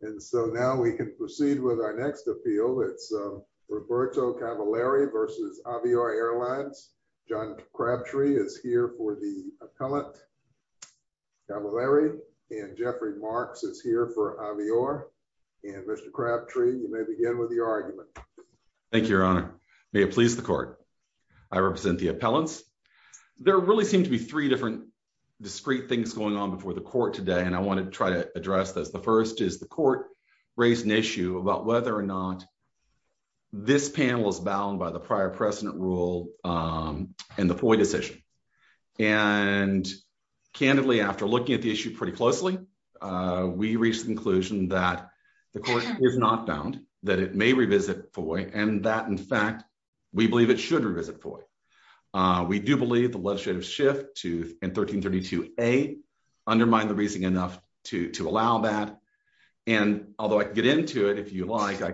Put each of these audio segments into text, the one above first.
And so now we can proceed with our next appeal. It's Roberto Cavalieri v. Avior Airlines. John Crabtree is here for the appellant. Cavalieri and Jeffrey Marks is here for Avior. And Mr. Crabtree, you may begin with your argument. Thank you, your honor. May it please the court. I represent the appellants. There really seem to be three different discreet things going on before the court today, and I want to try to address those. The first is the court raised an issue about whether or not this panel is bound by the prior precedent rule and the FOIA decision. And candidly, after looking at the issue pretty closely, we reached the conclusion that the court is not bound, that it may revisit FOIA, and that, in fact, we believe it should revisit FOIA. We do believe the legislative shift in 1332A undermined the reasoning enough to allow that. And although I can get into it, if you like, I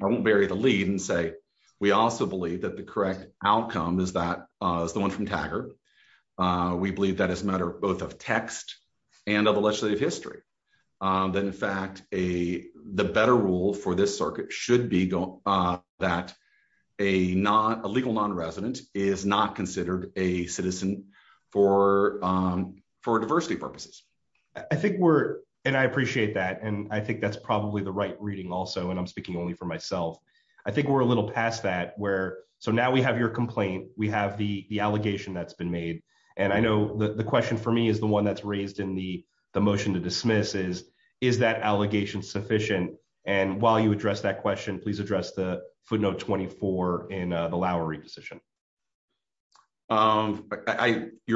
won't bury the lead and say we also believe that the correct outcome is the one from Taggart. We believe that as a matter both of text and of the legislative history, that, in fact, the better rule for this circuit should be that a legal nonresident is not considered a citizen for diversity purposes. I think we're, and I appreciate that, and I think that's probably the right reading also, and I'm speaking only for myself. I think we're a little past that where, so now we have your complaint. We have the allegation that's been made. And I know the question for me is the one that's raised in the motion to dismiss is, is that allegation sufficient? And while you address that footnote 24 in the Lowry decision. Your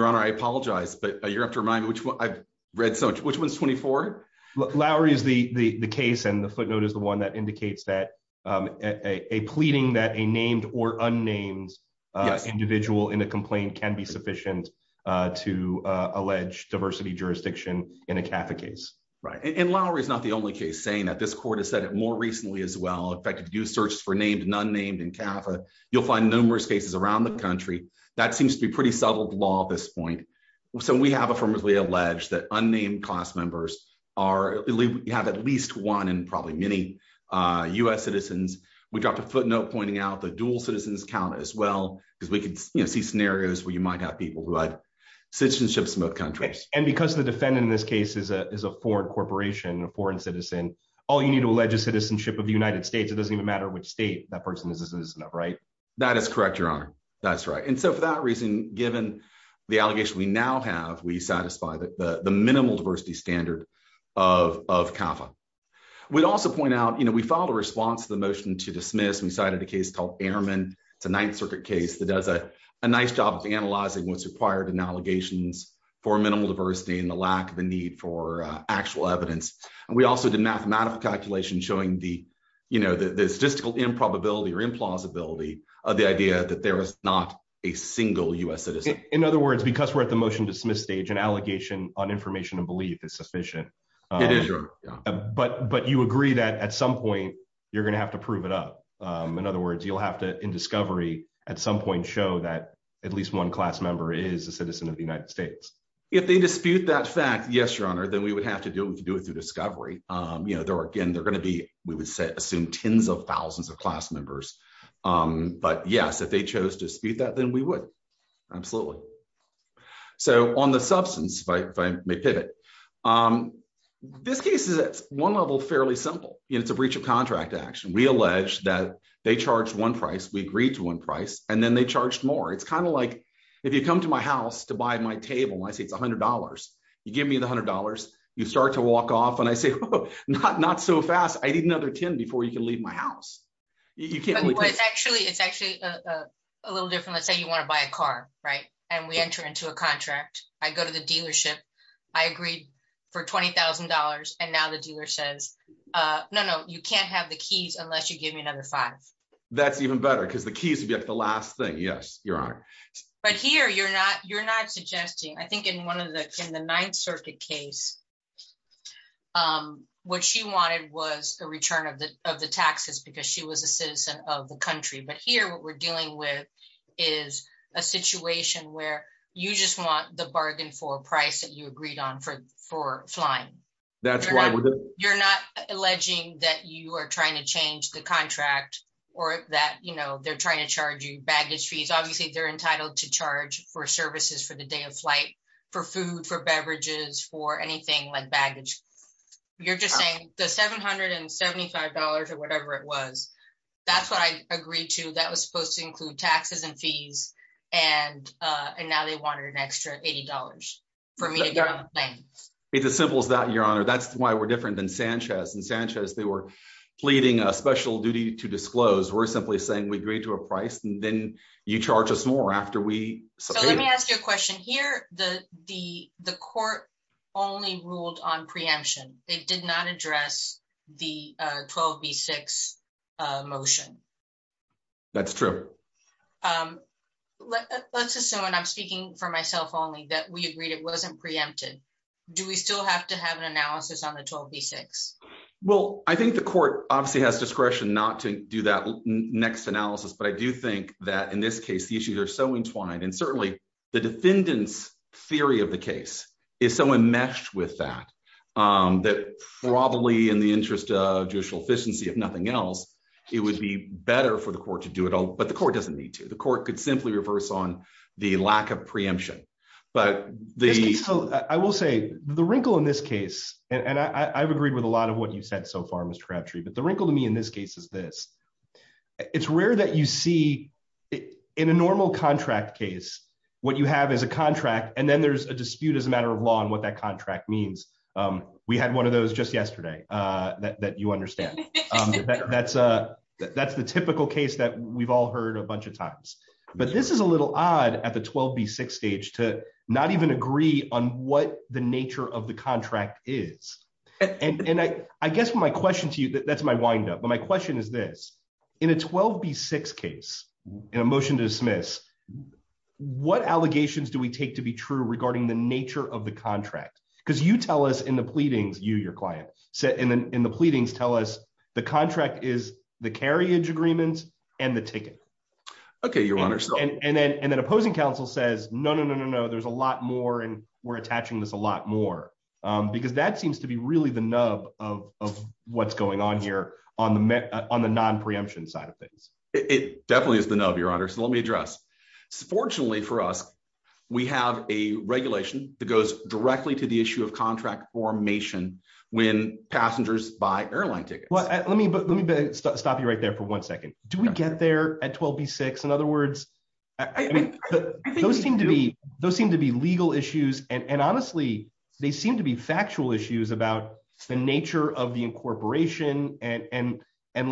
Honor, I apologize, but you have to remind me which one, I've read so much, which one's 24? Lowry is the case and the footnote is the one that indicates that a pleading that a named or unnamed individual in a complaint can be sufficient to allege diversity jurisdiction in a CAFA case. Right. And Lowry is not the only case saying that this court has said it more recently as well. In fact, if you search for named and unnamed in CAFA, you'll find numerous cases around the country. That seems to be pretty subtle law at this point. So we have affirmatively alleged that unnamed class members are at least one in probably many U.S. citizens. We dropped a footnote pointing out the dual citizens count as well, because we could see scenarios where you might have people who had citizenships in both countries. And because the defendant in this case is a foreign corporation, a foreign citizen, all you need to allege is citizenship of the United States. It doesn't even matter which state that person is a citizen of, right? That is correct, Your Honor. That's right. And so for that reason, given the allegation we now have, we satisfy the minimal diversity standard of CAFA. We'd also point out, you know, we filed a response to the motion to dismiss. We cited a case called Airmen. It's a Ninth Circuit case that does a nice job of analyzing what's required in allegations for minimal diversity and the lack of a need for actual evidence. And we also did mathematical calculations showing the statistical improbability or implausibility of the idea that there is not a single U.S. citizen. In other words, because we're at the motion to dismiss stage, an allegation on information and belief is sufficient. It is, Your Honor. But you agree that at some point, you're going to have to prove it up. In other words, you'll have to, in discovery, at some point, show that at least one class member is a citizen of the United States. If they dispute that fact, yes, Your Honor, then we would have to do it. We can do it through discovery. You know, there are, again, they're going to be, we would assume, tens of thousands of class members. But yes, if they chose to dispute that, then we would. Absolutely. So on the substance, if I may pivot, this case is at one level fairly simple. It's a breach of then they charged more. It's kind of like if you come to my house to buy my table and I say it's $100, you give me the $100, you start to walk off. And I say, not so fast. I need another 10 before you can leave my house. You can't. It's actually a little different. Let's say you want to buy a car, right? And we enter into a contract. I go to the dealership. I agreed for $20,000. And now the dealer says, no, no, you can't have the keys unless you give me another five. That's even better because the keys would be at the last thing. Yes, Your Honor. But here you're not, you're not suggesting, I think in one of the, in the Ninth Circuit case, what she wanted was a return of the, of the taxes because she was a citizen of the country. But here what we're dealing with is a situation where you just want the bargain for a price that you agreed on for, for flying. You're not alleging that you are trying to change the contract or that, you know, they're trying to charge you baggage fees. Obviously they're entitled to charge for services for the day of flight, for food, for beverages, for anything like baggage. You're just saying the $775 or whatever it was, that's what I agreed to. That was supposed to include taxes and fees. And, and now they wanted an extra $80 for me to get on the plane. It's as simple as that, Your Honor. That's why we're different than Sanchez. In Sanchez, they were pleading a special duty to disclose. We're simply saying we agreed to a price and then you charge us more after we. So let me ask you a question here. The, the, the court only ruled on preemption. They did not address the 12B6 motion. That's true. Let's assume, and I'm speaking for myself only, that we agreed it wasn't preempted. Do we still have to have an analysis on the 12B6? Well, I think the court obviously has discretion not to do that next analysis, but I do think that in this case, the issues are so entwined and certainly the defendant's theory of the case is so enmeshed with that, that probably in the interest of judicial efficiency, if nothing else, it would be better for the court to do it all, but the court doesn't need to. The court could simply reverse on the lack of preemption, but the. I will say the wrinkle in this case, and I've agreed with a lot of what you've said so far, Mr. Crabtree, but the wrinkle to me in this case is this. It's rare that you see in a normal contract case, what you have is a contract and then there's a dispute as a matter of law on what that contract means. We had one of those just yesterday that you understand. That's the typical case that we've all heard a bunch of times, but this is a little odd at the 12B6 stage to not even agree on what the nature of the contract is, and I guess my question to you, that's my wind up, but my question is this. In a 12B6 case, in a motion to dismiss, what allegations do we take to be true regarding the nature of the contract? Because you tell us in the pleadings, you, your client, in the pleadings tell us the agreements and the ticket. And then opposing counsel says, no, no, no, no, no. There's a lot more and we're attaching this a lot more because that seems to be really the nub of what's going on here on the non-preemption side of things. It definitely is the nub, your honor. So let me address. Fortunately for us, we have a regulation that goes directly to the issue of contract formation when passengers buy airline tickets. Well, let me stop you right there for one second. Do we get there at 12B6? In other words, those seem to be legal issues and honestly, they seem to be factual issues about the nature of the incorporation and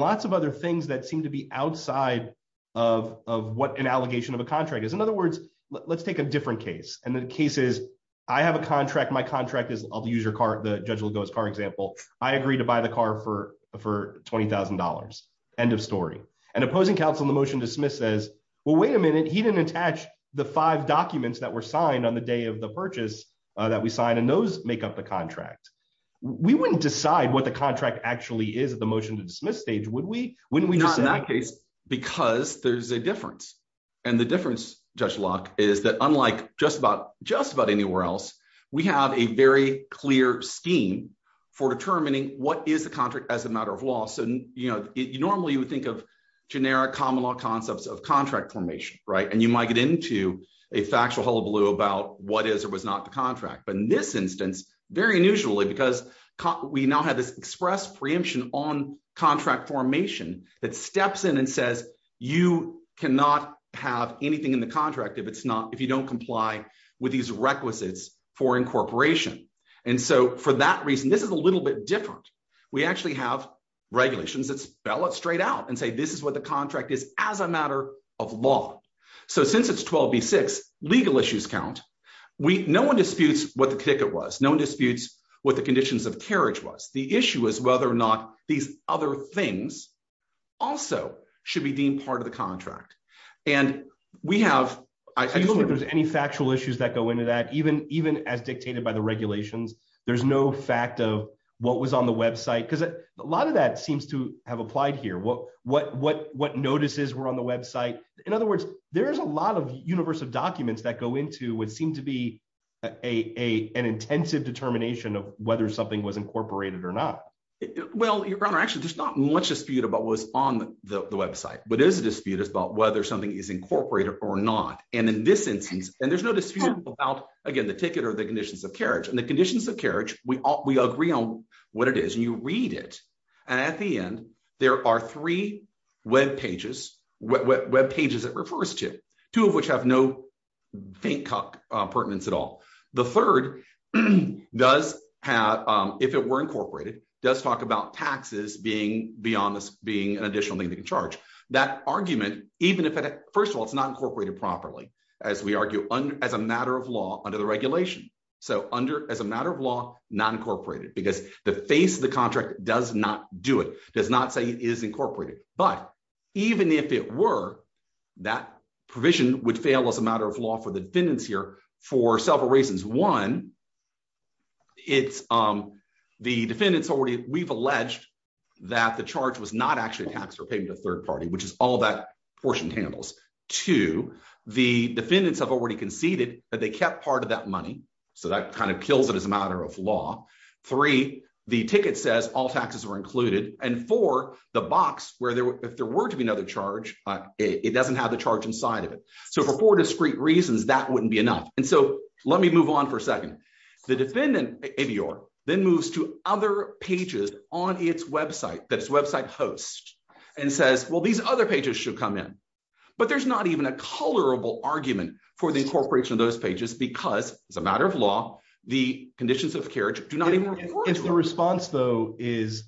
lots of other things that seem to be outside of what an allegation of a contract is. In other words, let's take a different case. And the case is, I have a contract. My contract is I'll use your car. The judge will go as car example. I agree to buy the car for $20,000. End of story. And opposing counsel in the motion to dismiss says, well, wait a minute. He didn't attach the five documents that were signed on the day of the purchase that we signed and those make up the contract. We wouldn't decide what the contract actually is at the motion to dismiss stage, would we? Not in that case, because there's a difference. And the difference, Judge Locke, is that unlike just about anywhere else, we have a very clear scheme for determining what is the contract as a matter of law. So normally you would think of generic common law concepts of contract formation, right? And you might get into a factual hullabaloo about what is or was not the contract. But in this instance, very unusually because we now have this expressed preemption on that steps in and says, you cannot have anything in the contract if you don't comply with these requisites for incorporation. And so for that reason, this is a little bit different. We actually have regulations that spell it straight out and say, this is what the contract is as a matter of law. So since it's 12B6, legal issues count. No one disputes what the ticket was. No one disputes what the conditions of carriage was. The issue is whether or not these other things also should be deemed part of the contract. And we have- I don't think there's any factual issues that go into that. Even as dictated by the regulations, there's no fact of what was on the website. Because a lot of that seems to have applied here. What notices were on the website? In other words, there is a lot of universal documents that go into what seemed to be an intensive determination of whether something was incorporated or not. Well, Your Honor, actually, there's not much dispute about what was on the website. But there's a dispute about whether something is incorporated or not. And in this instance, and there's no dispute about, again, the ticket or the conditions of carriage. And the conditions of carriage, we agree on what it is. And you read it. And at the end, there are three web pages, web pages it refers to, two of which have no pertinence at all. The third does have, if it were incorporated, does talk about taxes being an additional thing to charge. That argument, even if it, first of all, it's not incorporated properly, as we argue as a matter of law under the regulation. So as a matter of law, not incorporated. Because the face of the contract does not do it, does not say it is incorporated. But even if it were, that provision would fail as a matter of law for the defendants here for several reasons. One, it's the defendants already, we've alleged that the charge was not actually taxed or paid to a third party, which is all that portion handles. Two, the defendants have already conceded that they kept part of that money. So that kind of kills it as a matter of law. Three, the ticket says all taxes were included. And four, the box where there, if there were to be another charge, it doesn't have the charge inside of it. So for four discrete reasons, that wouldn't be enough. And so let me move on for a second. The defendant, ABR, then moves to other pages on its website, that its website hosts and says, well, these other pages should come in. But there's not even a colorable argument for the incorporation of those pages, because as a matter of law, the conditions of carriage do not even. It's the response, though, is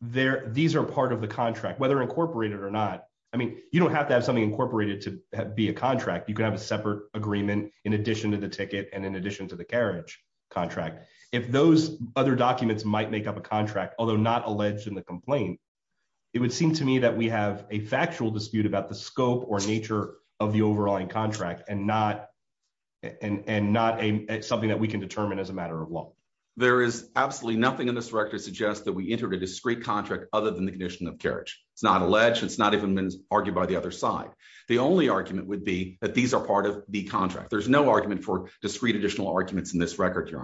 there. These are part of the contract, whether incorporated or not. I mean, you don't have to have something incorporated to be a contract. You can have a separate agreement in addition to the ticket. And in addition to the carriage contract, if those other documents might make up a contract, although not alleged in the complaint, it would seem to me that we have a factual dispute about the scope or nature of the overlying contract and not and not something that we can determine as a matter of law. There is absolutely nothing in this record suggests that we entered a discrete contract other than the condition of carriage. It's not alleged. It's not even been argued by the other side. The only argument would be that these are part of the contract. There's no argument for discrete additional arguments in this record.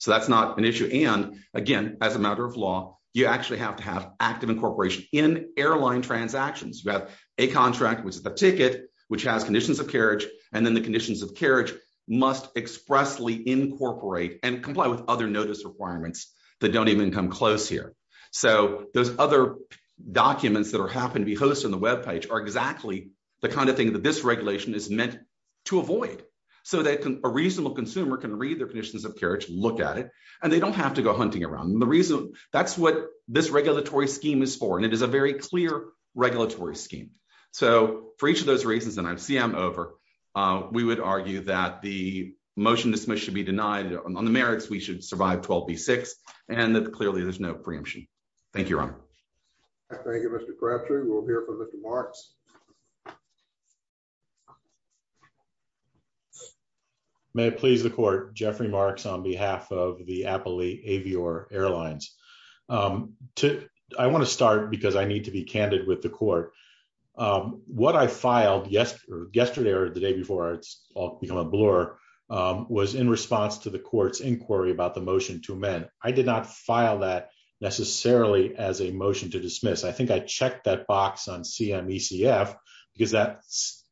So that's not an issue. And again, as a matter of law, you actually have to have active incorporation in airline transactions. You have a contract, which is the ticket, which has conditions of carriage, and then the conditions of carriage must expressly incorporate and comply with other notice requirements that don't even come close here. So those other documents that happen to be hosted on the web page are exactly the kind of thing that this regulation is meant to avoid so that a reasonable consumer can read their conditions of carriage, look at it, and they don't have to go hunting around. The reason that's what this regulatory scheme is for, and it is a very clear regulatory scheme. So for each of those reasons, and I see I'm over, we would argue that the motion dismissed should be denied on the merits. We should survive 12 B6 and that clearly there's no preemption. Thank you, Ron. Thank you, Mr. Cratcher. We'll hear from Mr. Marks. May it please the court, Jeffrey Marks on behalf of the Appley Avior Airlines. I want to start because I need to be candid with the court. What I filed yesterday or the day before, it's all become a blur, was in response to the court's inquiry about the motion to amend. I did not file that necessarily as a motion to dismiss. I think I checked that box on CMECF because that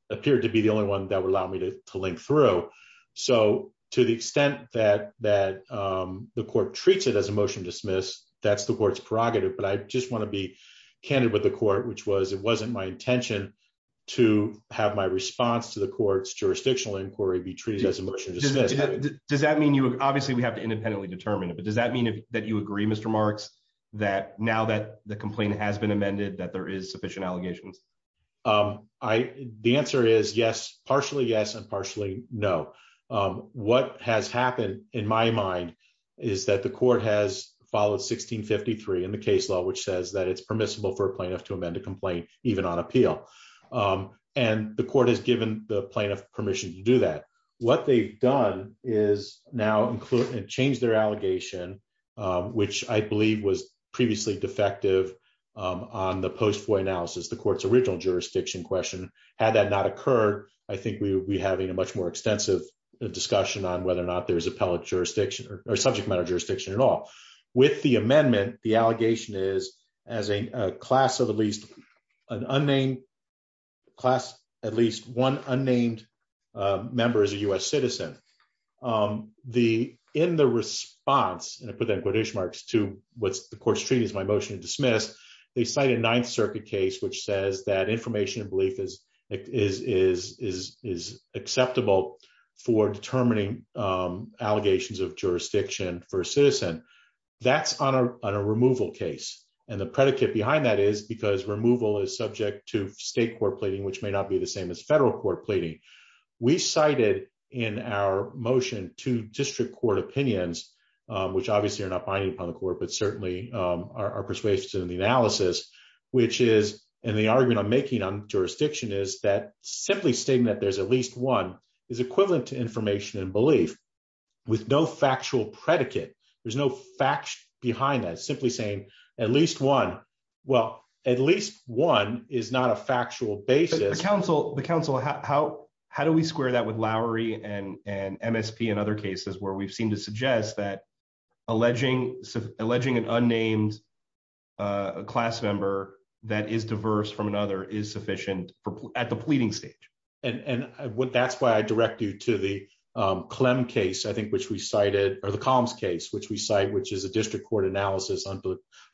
appeared to be the only one that would allow me to link through. So to the extent that the court treats it as a motion to dismiss, that's the court's prerogative. But I just want to be candid with the court, which was, it wasn't my intention to have my response to the court's jurisdictional inquiry be treated as a motion to dismiss. Does that mean you, obviously we have to independently determine it, but does that mean that you agree, Mr. Marks, that now that the answer is yes, partially yes, and partially no. What has happened in my mind is that the court has followed 1653 in the case law, which says that it's permissible for a plaintiff to amend a complaint even on appeal. And the court has given the plaintiff permission to do that. What they've done is now include and change their allegation, which I believe was previously defective on the post-foy analysis, the court's original jurisdiction question. Had that not occurred, I think we would be having a much more extensive discussion on whether or not there's appellate jurisdiction or subject matter jurisdiction at all. With the amendment, the allegation is as a class of at least an unnamed class, at least one unnamed member as a U.S. citizen. In the response, and I put that in quotation marks to what the court's treating as my motion to dismiss, they cite a Ninth Circuit case which says that information and belief is acceptable for determining allegations of jurisdiction for a citizen. That's on a removal case. And the predicate behind that is because removal is subject to state court pleading, which may not be the same as federal court pleading. We cited in our motion two district court opinions, which obviously are not binding upon the court, but certainly are persuasive in the analysis, which is in the argument I'm making on jurisdiction is that simply stating that there's at least one is equivalent to information and belief with no factual predicate. There's no behind that. Simply saying at least one, well, at least one is not a factual basis. The counsel, how do we square that with Lowry and MSP and other cases where we've seen to suggest that alleging an unnamed class member that is diverse from another is sufficient at the pleading stage? And that's why I direct you to the Clem case, I think, which we cited, or the Collins case, which we cite, which is a district court analysis on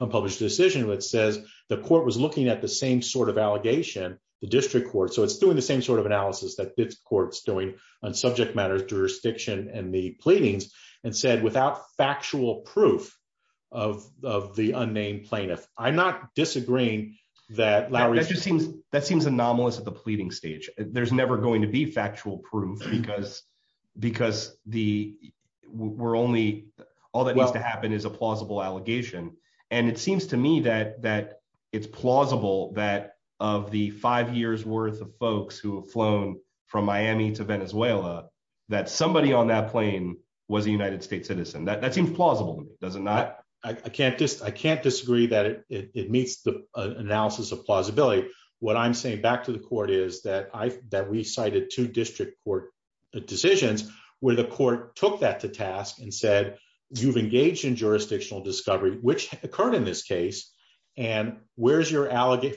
unpublished decision, which says the court was looking at the same sort of allegation, the district court. So it's doing the same sort of analysis that this court's doing on subject matters, jurisdiction, and the pleadings and said, without factual proof of the unnamed plaintiff. I'm not disagreeing. That seems anomalous at the pleading stage. There's never going to be factual proof because we're only, all that needs to happen is a plausible allegation. And it seems to me that it's plausible that of the five years worth of folks who have flown from Miami to Venezuela, that somebody on that plane was a United States citizen. That seems plausible to me, does it not? I can't disagree that it meets the analysis of plausibility. What I'm saying back to the court is that we cited two district court decisions, where the court took that to task and said, you've engaged in jurisdictional discovery, which occurred in this case. And where's your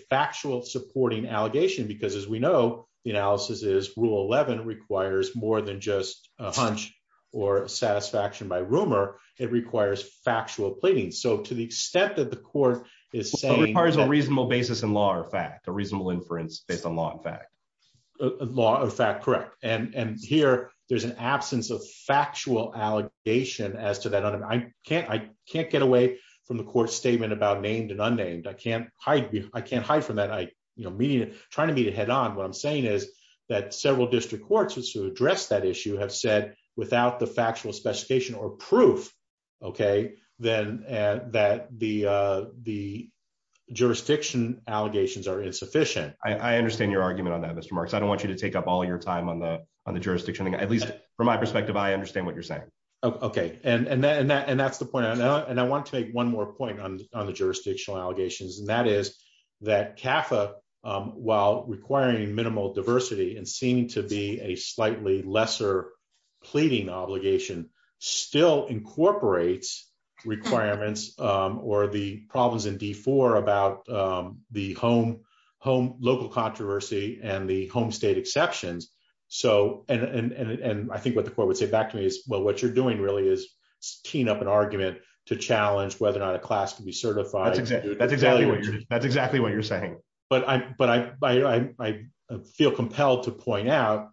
factual supporting allegation? Because as we know, the analysis is rule 11 requires more than just a hunch, or satisfaction by rumor, it requires factual pleading. So to the extent that the court is saying- A reasonable basis in law or fact, a reasonable inference based on law and fact. Law or fact, correct. And here, there's an absence of factual allegation as to that. I can't get away from the court statement about named and unnamed. I can't hide from that. I'm trying to meet it head on. What I'm saying is that several district courts to address that issue have said, without the factual specification or proof, okay, that the jurisdiction allegations are insufficient. I understand your argument on that, Mr. Marks. I don't want you to take up all your time on the jurisdiction. At least from my perspective, I understand what you're saying. Okay. And that's the point. And I want to make one more point on the jurisdictional allegations. And that is that CAFA, while requiring minimal diversity and seeming to be a slightly lesser pleading obligation, still incorporates requirements or the problems in D4 about the home local controversy and the home state exceptions. And I think what the court would say back to me is, well, what you're doing really is teeing up an argument to challenge whether or not a class can be certified. That's exactly what you're saying. But I feel compelled to point out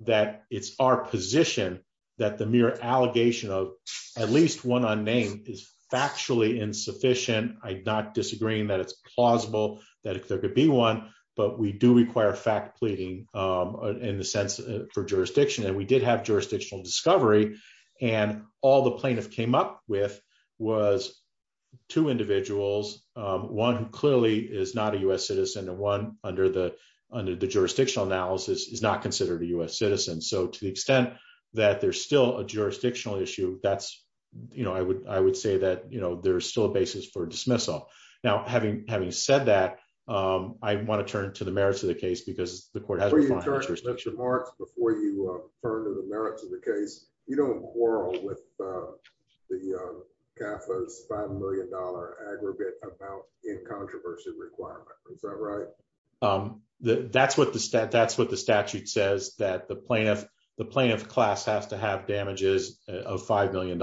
that it's our position that the mere allegation of at least one unnamed is factually insufficient. I'm not disagreeing that it's plausible, that there could be one, but we do require fact pleading in the sense for jurisdiction. And we did have jurisdictional discovery. And all the plaintiff came up with was two individuals, one who clearly is not a U.S. citizen. So to the extent that there's still a jurisdictional issue, I would say that there's still a basis for dismissal. Now, having said that, I want to turn to the merits of the case because the court has- Before you turn to the merits of the case, you don't quarrel with the CAFA's $5 million aggregate about in controversy requirement. Is that right? That's what the statute says, that the plaintiff class has to have damages of $5 million.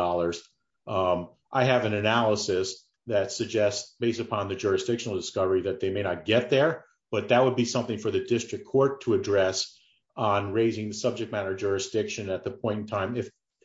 I have an analysis that suggests based upon the jurisdictional discovery that they may not get there, but that would be something for the district court to address on raising the subject matter of jurisdiction at the point in time.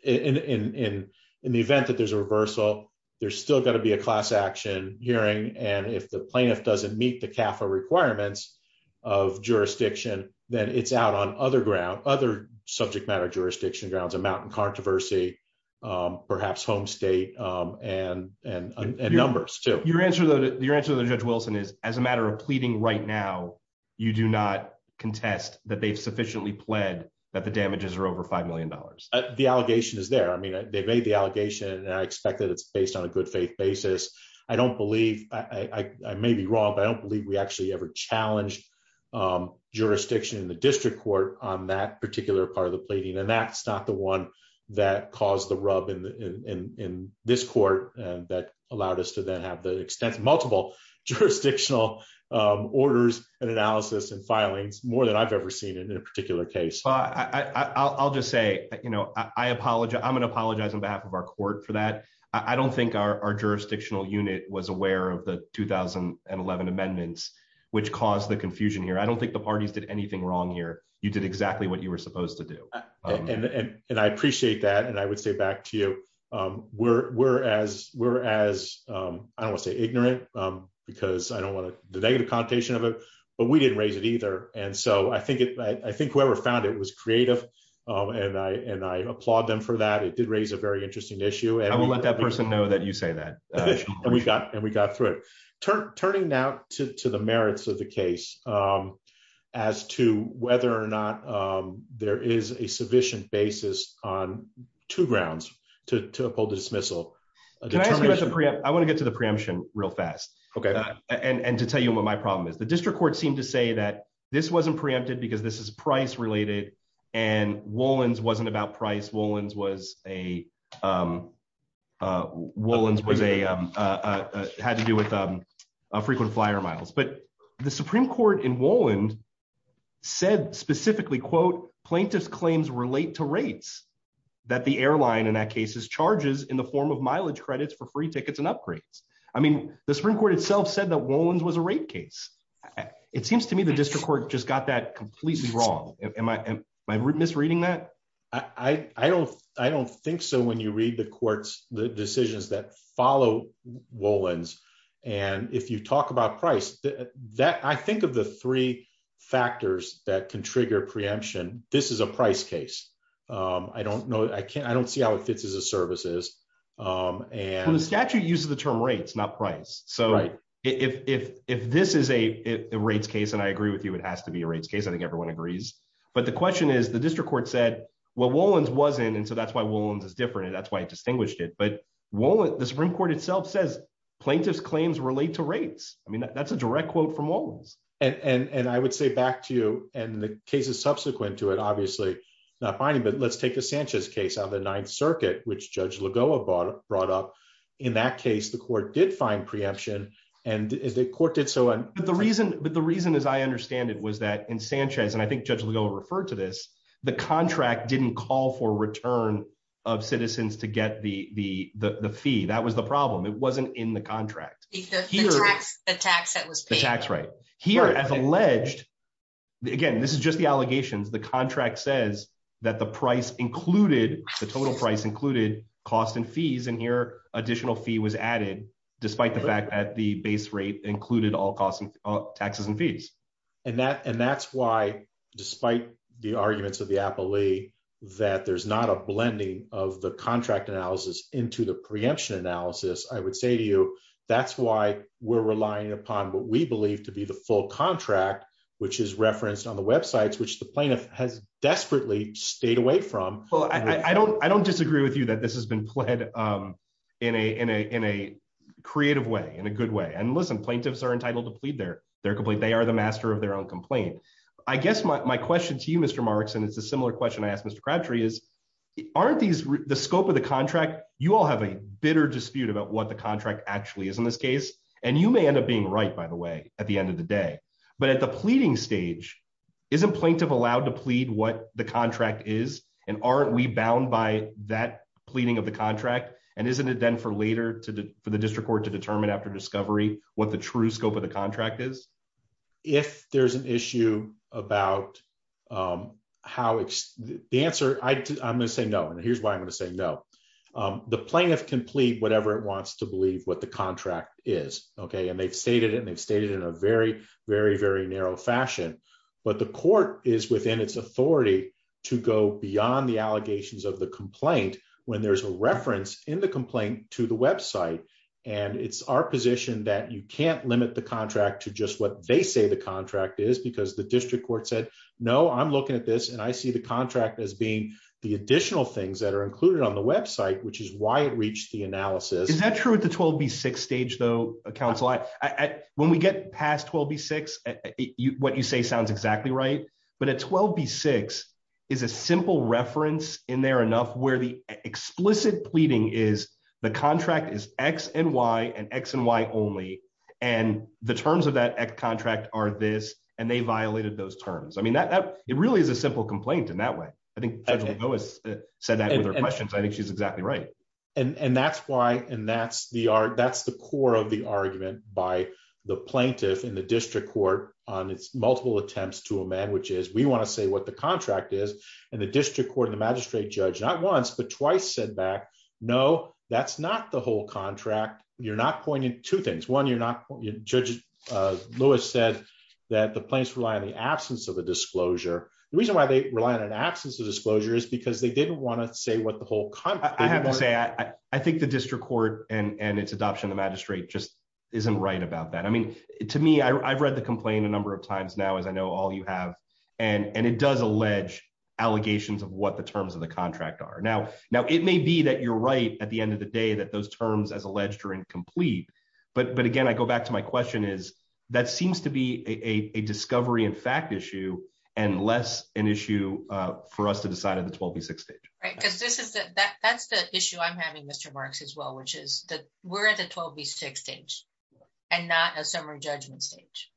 In the event that there's a reversal, there's still to be a class action hearing. And if the plaintiff doesn't meet the CAFA requirements of jurisdiction, then it's out on other ground, other subject matter jurisdiction grounds, a mountain controversy, perhaps home state and numbers too. Your answer to Judge Wilson is as a matter of pleading right now, you do not contest that they've sufficiently pled that the damages are over $5 million. The allegation is there. I mean, they made the allegation and I expect that it's based on a good faith basis. I may be wrong, but I don't believe we actually ever challenged jurisdiction in the district court on that particular part of the pleading. And that's not the one that caused the rub in this court that allowed us to then have the extensive, multiple jurisdictional orders and analysis and filings more than I've ever seen in a particular case. I'll just say, I'm going to apologize on behalf of our court for that. I don't think our jurisdictional unit was aware of the 2011 amendments, which caused the confusion here. I don't think the parties did anything wrong here. You did exactly what you were supposed to do. And I appreciate that. And I would say back to you, we're as, I don't want to say ignorant because I don't want the negative connotation of it, but we didn't raise it either. And so I think whoever found it was creative and I applaud them for that. It did raise a very interesting issue. I will let that person know that you say that. And we got through it. Turning now to the merits of the case as to whether or not there is a sufficient basis on two grounds to uphold dismissal. I want to get to the preemption real fast. Okay. And to tell you what my problem is, the district court seemed to say that this wasn't preempted because this is price related and Wolland's wasn't about price. Wolland's had to do with frequent flyer miles. But the Supreme court in Wolland said specifically, quote, plaintiff's claims relate to rates that the airline in that case charges in the form of mileage credits for free tickets and upgrades. I mean, the Supreme court itself said that Wolland's was a rate case. It seems to me the misreading that. I don't think so. When you read the courts, the decisions that follow Wolland's. And if you talk about price that I think of the three factors that can trigger preemption, this is a price case. I don't know. I can't, I don't see how it fits as a services. And the statute uses the term rates, not price. So if this is a rates case and I agree with you, it has to be a rates case. I think everyone agrees. But the question is the district court said, well, Wolland's wasn't. And so that's why Wolland's is different. And that's why it distinguished it. But Wolland, the Supreme court itself says plaintiff's claims relate to rates. I mean, that's a direct quote from Wolland's. And I would say back to you and the cases subsequent to it, obviously not finding, but let's take the Sanchez case out of the ninth circuit, which judge Lagoa brought up. In that case, the court did find preemption and the court was that in Sanchez, and I think judge Lagoa referred to this, the contract didn't call for return of citizens to get the fee. That was the problem. It wasn't in the contract. Here as alleged, again, this is just the allegations. The contract says that the price included the total price included cost and fees. And here additional fee was added, despite the fact that the base rate included all costs and taxes and fees. And that's why, despite the arguments of the appellee, that there's not a blending of the contract analysis into the preemption analysis, I would say to you, that's why we're relying upon what we believe to be the full contract, which is referenced on the websites, which the plaintiff has desperately stayed away from. I don't disagree with you that this has been played in a creative way, in a good way. And listen, plaintiffs are entitled to plead their complaint. They are the master of their own complaint. I guess my question to you, Mr. Marks, and it's a similar question I asked Mr. Crabtree is, aren't the scope of the contract, you all have a bitter dispute about what the contract actually is in this case. And you may end up being right, by the way, at the end of the day. But at the pleading stage, isn't plaintiff allowed to plead what the and isn't it then for later for the district court to determine after discovery what the true scope of the contract is? If there's an issue about how the answer, I'm going to say no. And here's why I'm going to say no. The plaintiff can plead whatever it wants to believe what the contract is. Okay. And they've stated it and they've stated it in a very, very, very narrow fashion. But the court is within its authority to go beyond the allegations of the complaint. When there's a reference in the complaint to the website. And it's our position that you can't limit the contract to just what they say the contract is because the district court said, no, I'm looking at this. And I see the contract as being the additional things that are included on the website, which is why it reached the analysis. Is that true at the 12 v six stage, though, counsel, I when we get past 12 v six, you what you say sounds exactly right. But at 12 v six is a simple reference in there enough where the explicit pleading is, the contract is x and y and x and y only. And the terms of that contract are this and they violated those terms. I mean, that that it really is a simple complaint in that way. I think I said that with her questions. I think she's exactly right. And that's why and that's the art. That's the core of the argument by the plaintiff in the district court on its multiple attempts to a man which is we want to say what the contract is. And the district court and the magistrate judge not once but twice said back. No, that's not the whole contract. You're not pointing two things. One, you're not. Judge Lewis said that the place rely on the absence of a disclosure. The reason why they rely on an absence of disclosure is because they didn't want to say what the whole I have to say, I think the district court and its adoption, the magistrate just isn't right about that. I mean, to me, I've read the does allege allegations of what the terms of the contract are now. Now, it may be that you're right at the end of the day that those terms as alleged are incomplete. But But again, I go back to my question is, that seems to be a discovery in fact issue, and less an issue for us to decide at the 12 v six stage, right? Because this is that that's the issue I'm having Mr. Marks as well, which is we're at the 12 v six stage, and not a summary judgment stage.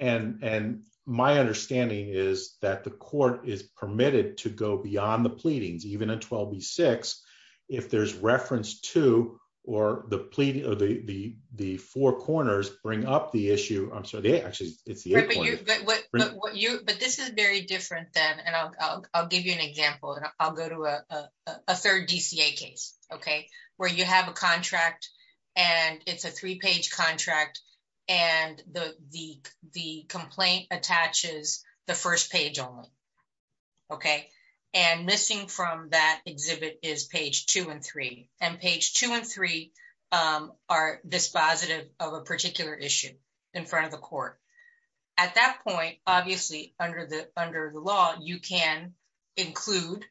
And, and my understanding is that the court is permitted to go beyond the pleadings, even in 12 v six, if there's reference to or the plea, or the the four corners bring up the issue, I'm sorry, they actually it's the what you but this is very different than and I'll give you an example. And I'll go to a third DCA case, okay, where you have a contract, and it's a three page contract, and the the the complaint attaches the first page only. Okay, and missing from that exhibit is page two and three and page two and three are dispositive of a particular issue in front of court. At that point, obviously, under the under the law, you can include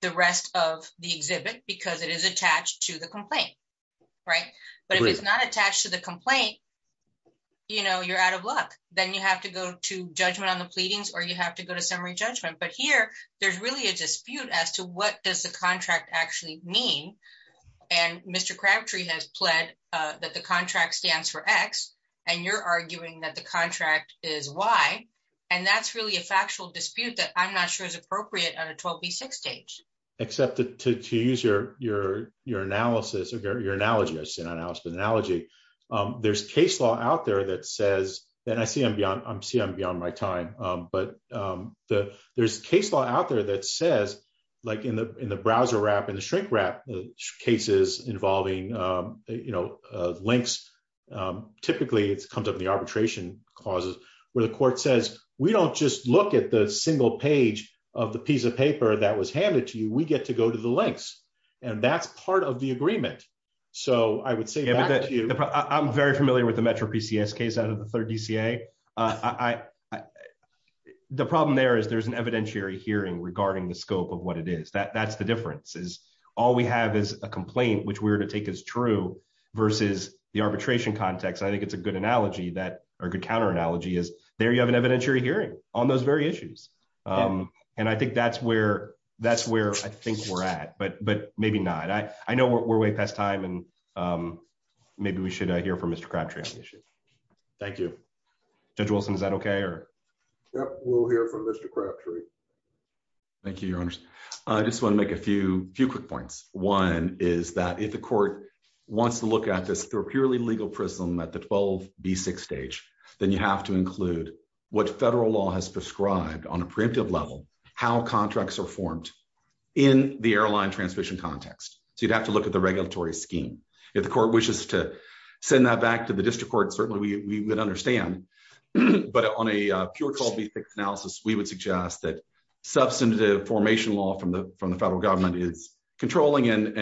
the rest of the exhibit, because it is attached to the complaint. Right? But if it's not attached to the complaint, you know, you're out of luck, then you have to go to judgment on the pleadings, or you have to go to summary judgment. But here, there's really a dispute as to what does the contract actually mean. And Mr. Crabtree has pled that the contract stands for x, and you're arguing that the contract is why. And that's really a factual dispute that I'm not sure is appropriate on a 12 v six stage, except that to use your your your analysis of your your analogy, I've seen analysis analogy, there's case law out there that says that I see I'm beyond I'm seeing beyond my time. But the there's case law out there that says, like in the in the browser wrap, and the shrink wrap cases involving, you know, links, typically, it's comes up in the arbitration clauses, where the court says, we don't just look at the single page of the piece of paper that was handed to you, we get to go to the links. And that's part of the agreement. So I would say that I'm very familiar with the Metro PCS case out of the third DCA. I the problem there is there's an evidentiary hearing regarding the scope of what it is that that's the difference is all we have is a complaint, which we were to take as true versus the arbitration context. I think it's a good analogy that are good counter analogy is there you have an evidentiary hearing on those very issues. And I think that's where that's where I think we're at, but but maybe not I appreciate it. Thank you. Judge Wilson, is that okay? Or? Yep, we'll hear from Mr. Crabtree. Thank you, your honors. I just want to make a few few quick points. One is that if the court wants to look at this through a purely legal prism at the 12 v six stage, then you have to include what federal law has prescribed on a preemptive level, how contracts are formed in the airline transmission context. So you'd have to look at the regulatory scheme. If the court wishes to send that back to the district court, certainly we would understand. But on a pure 12 v six analysis, we would suggest that substantive formation law from the from the federal government is controlling and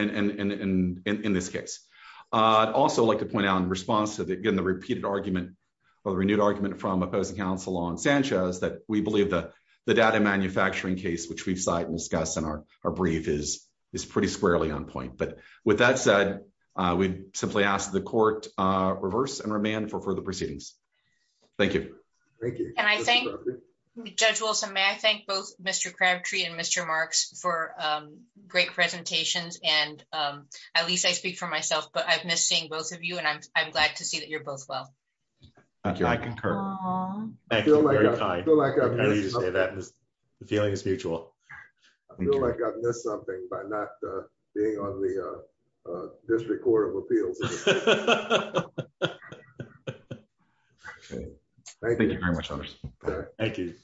in this case, I'd also like to point out in response to that, again, the repeated argument, or the renewed argument from opposing counsel on Sanchez, that we believe that the data manufacturing case, which we've cited discussed in our brief is, is pretty squarely on point. But with that said, we simply ask the court, reverse and remand for further proceedings. Thank you. Thank you. And I think, Judge Wilson, may I thank both Mr. Crabtree and Mr. Marks for great presentations. And at least I speak for myself, but I've missed seeing both of you. And I'm glad to see that you're both well. Thank you. I concur. I feel like the feeling is mutual. I feel like I've missed something by not being on the district court of appeals. Thank you very much. Thank you.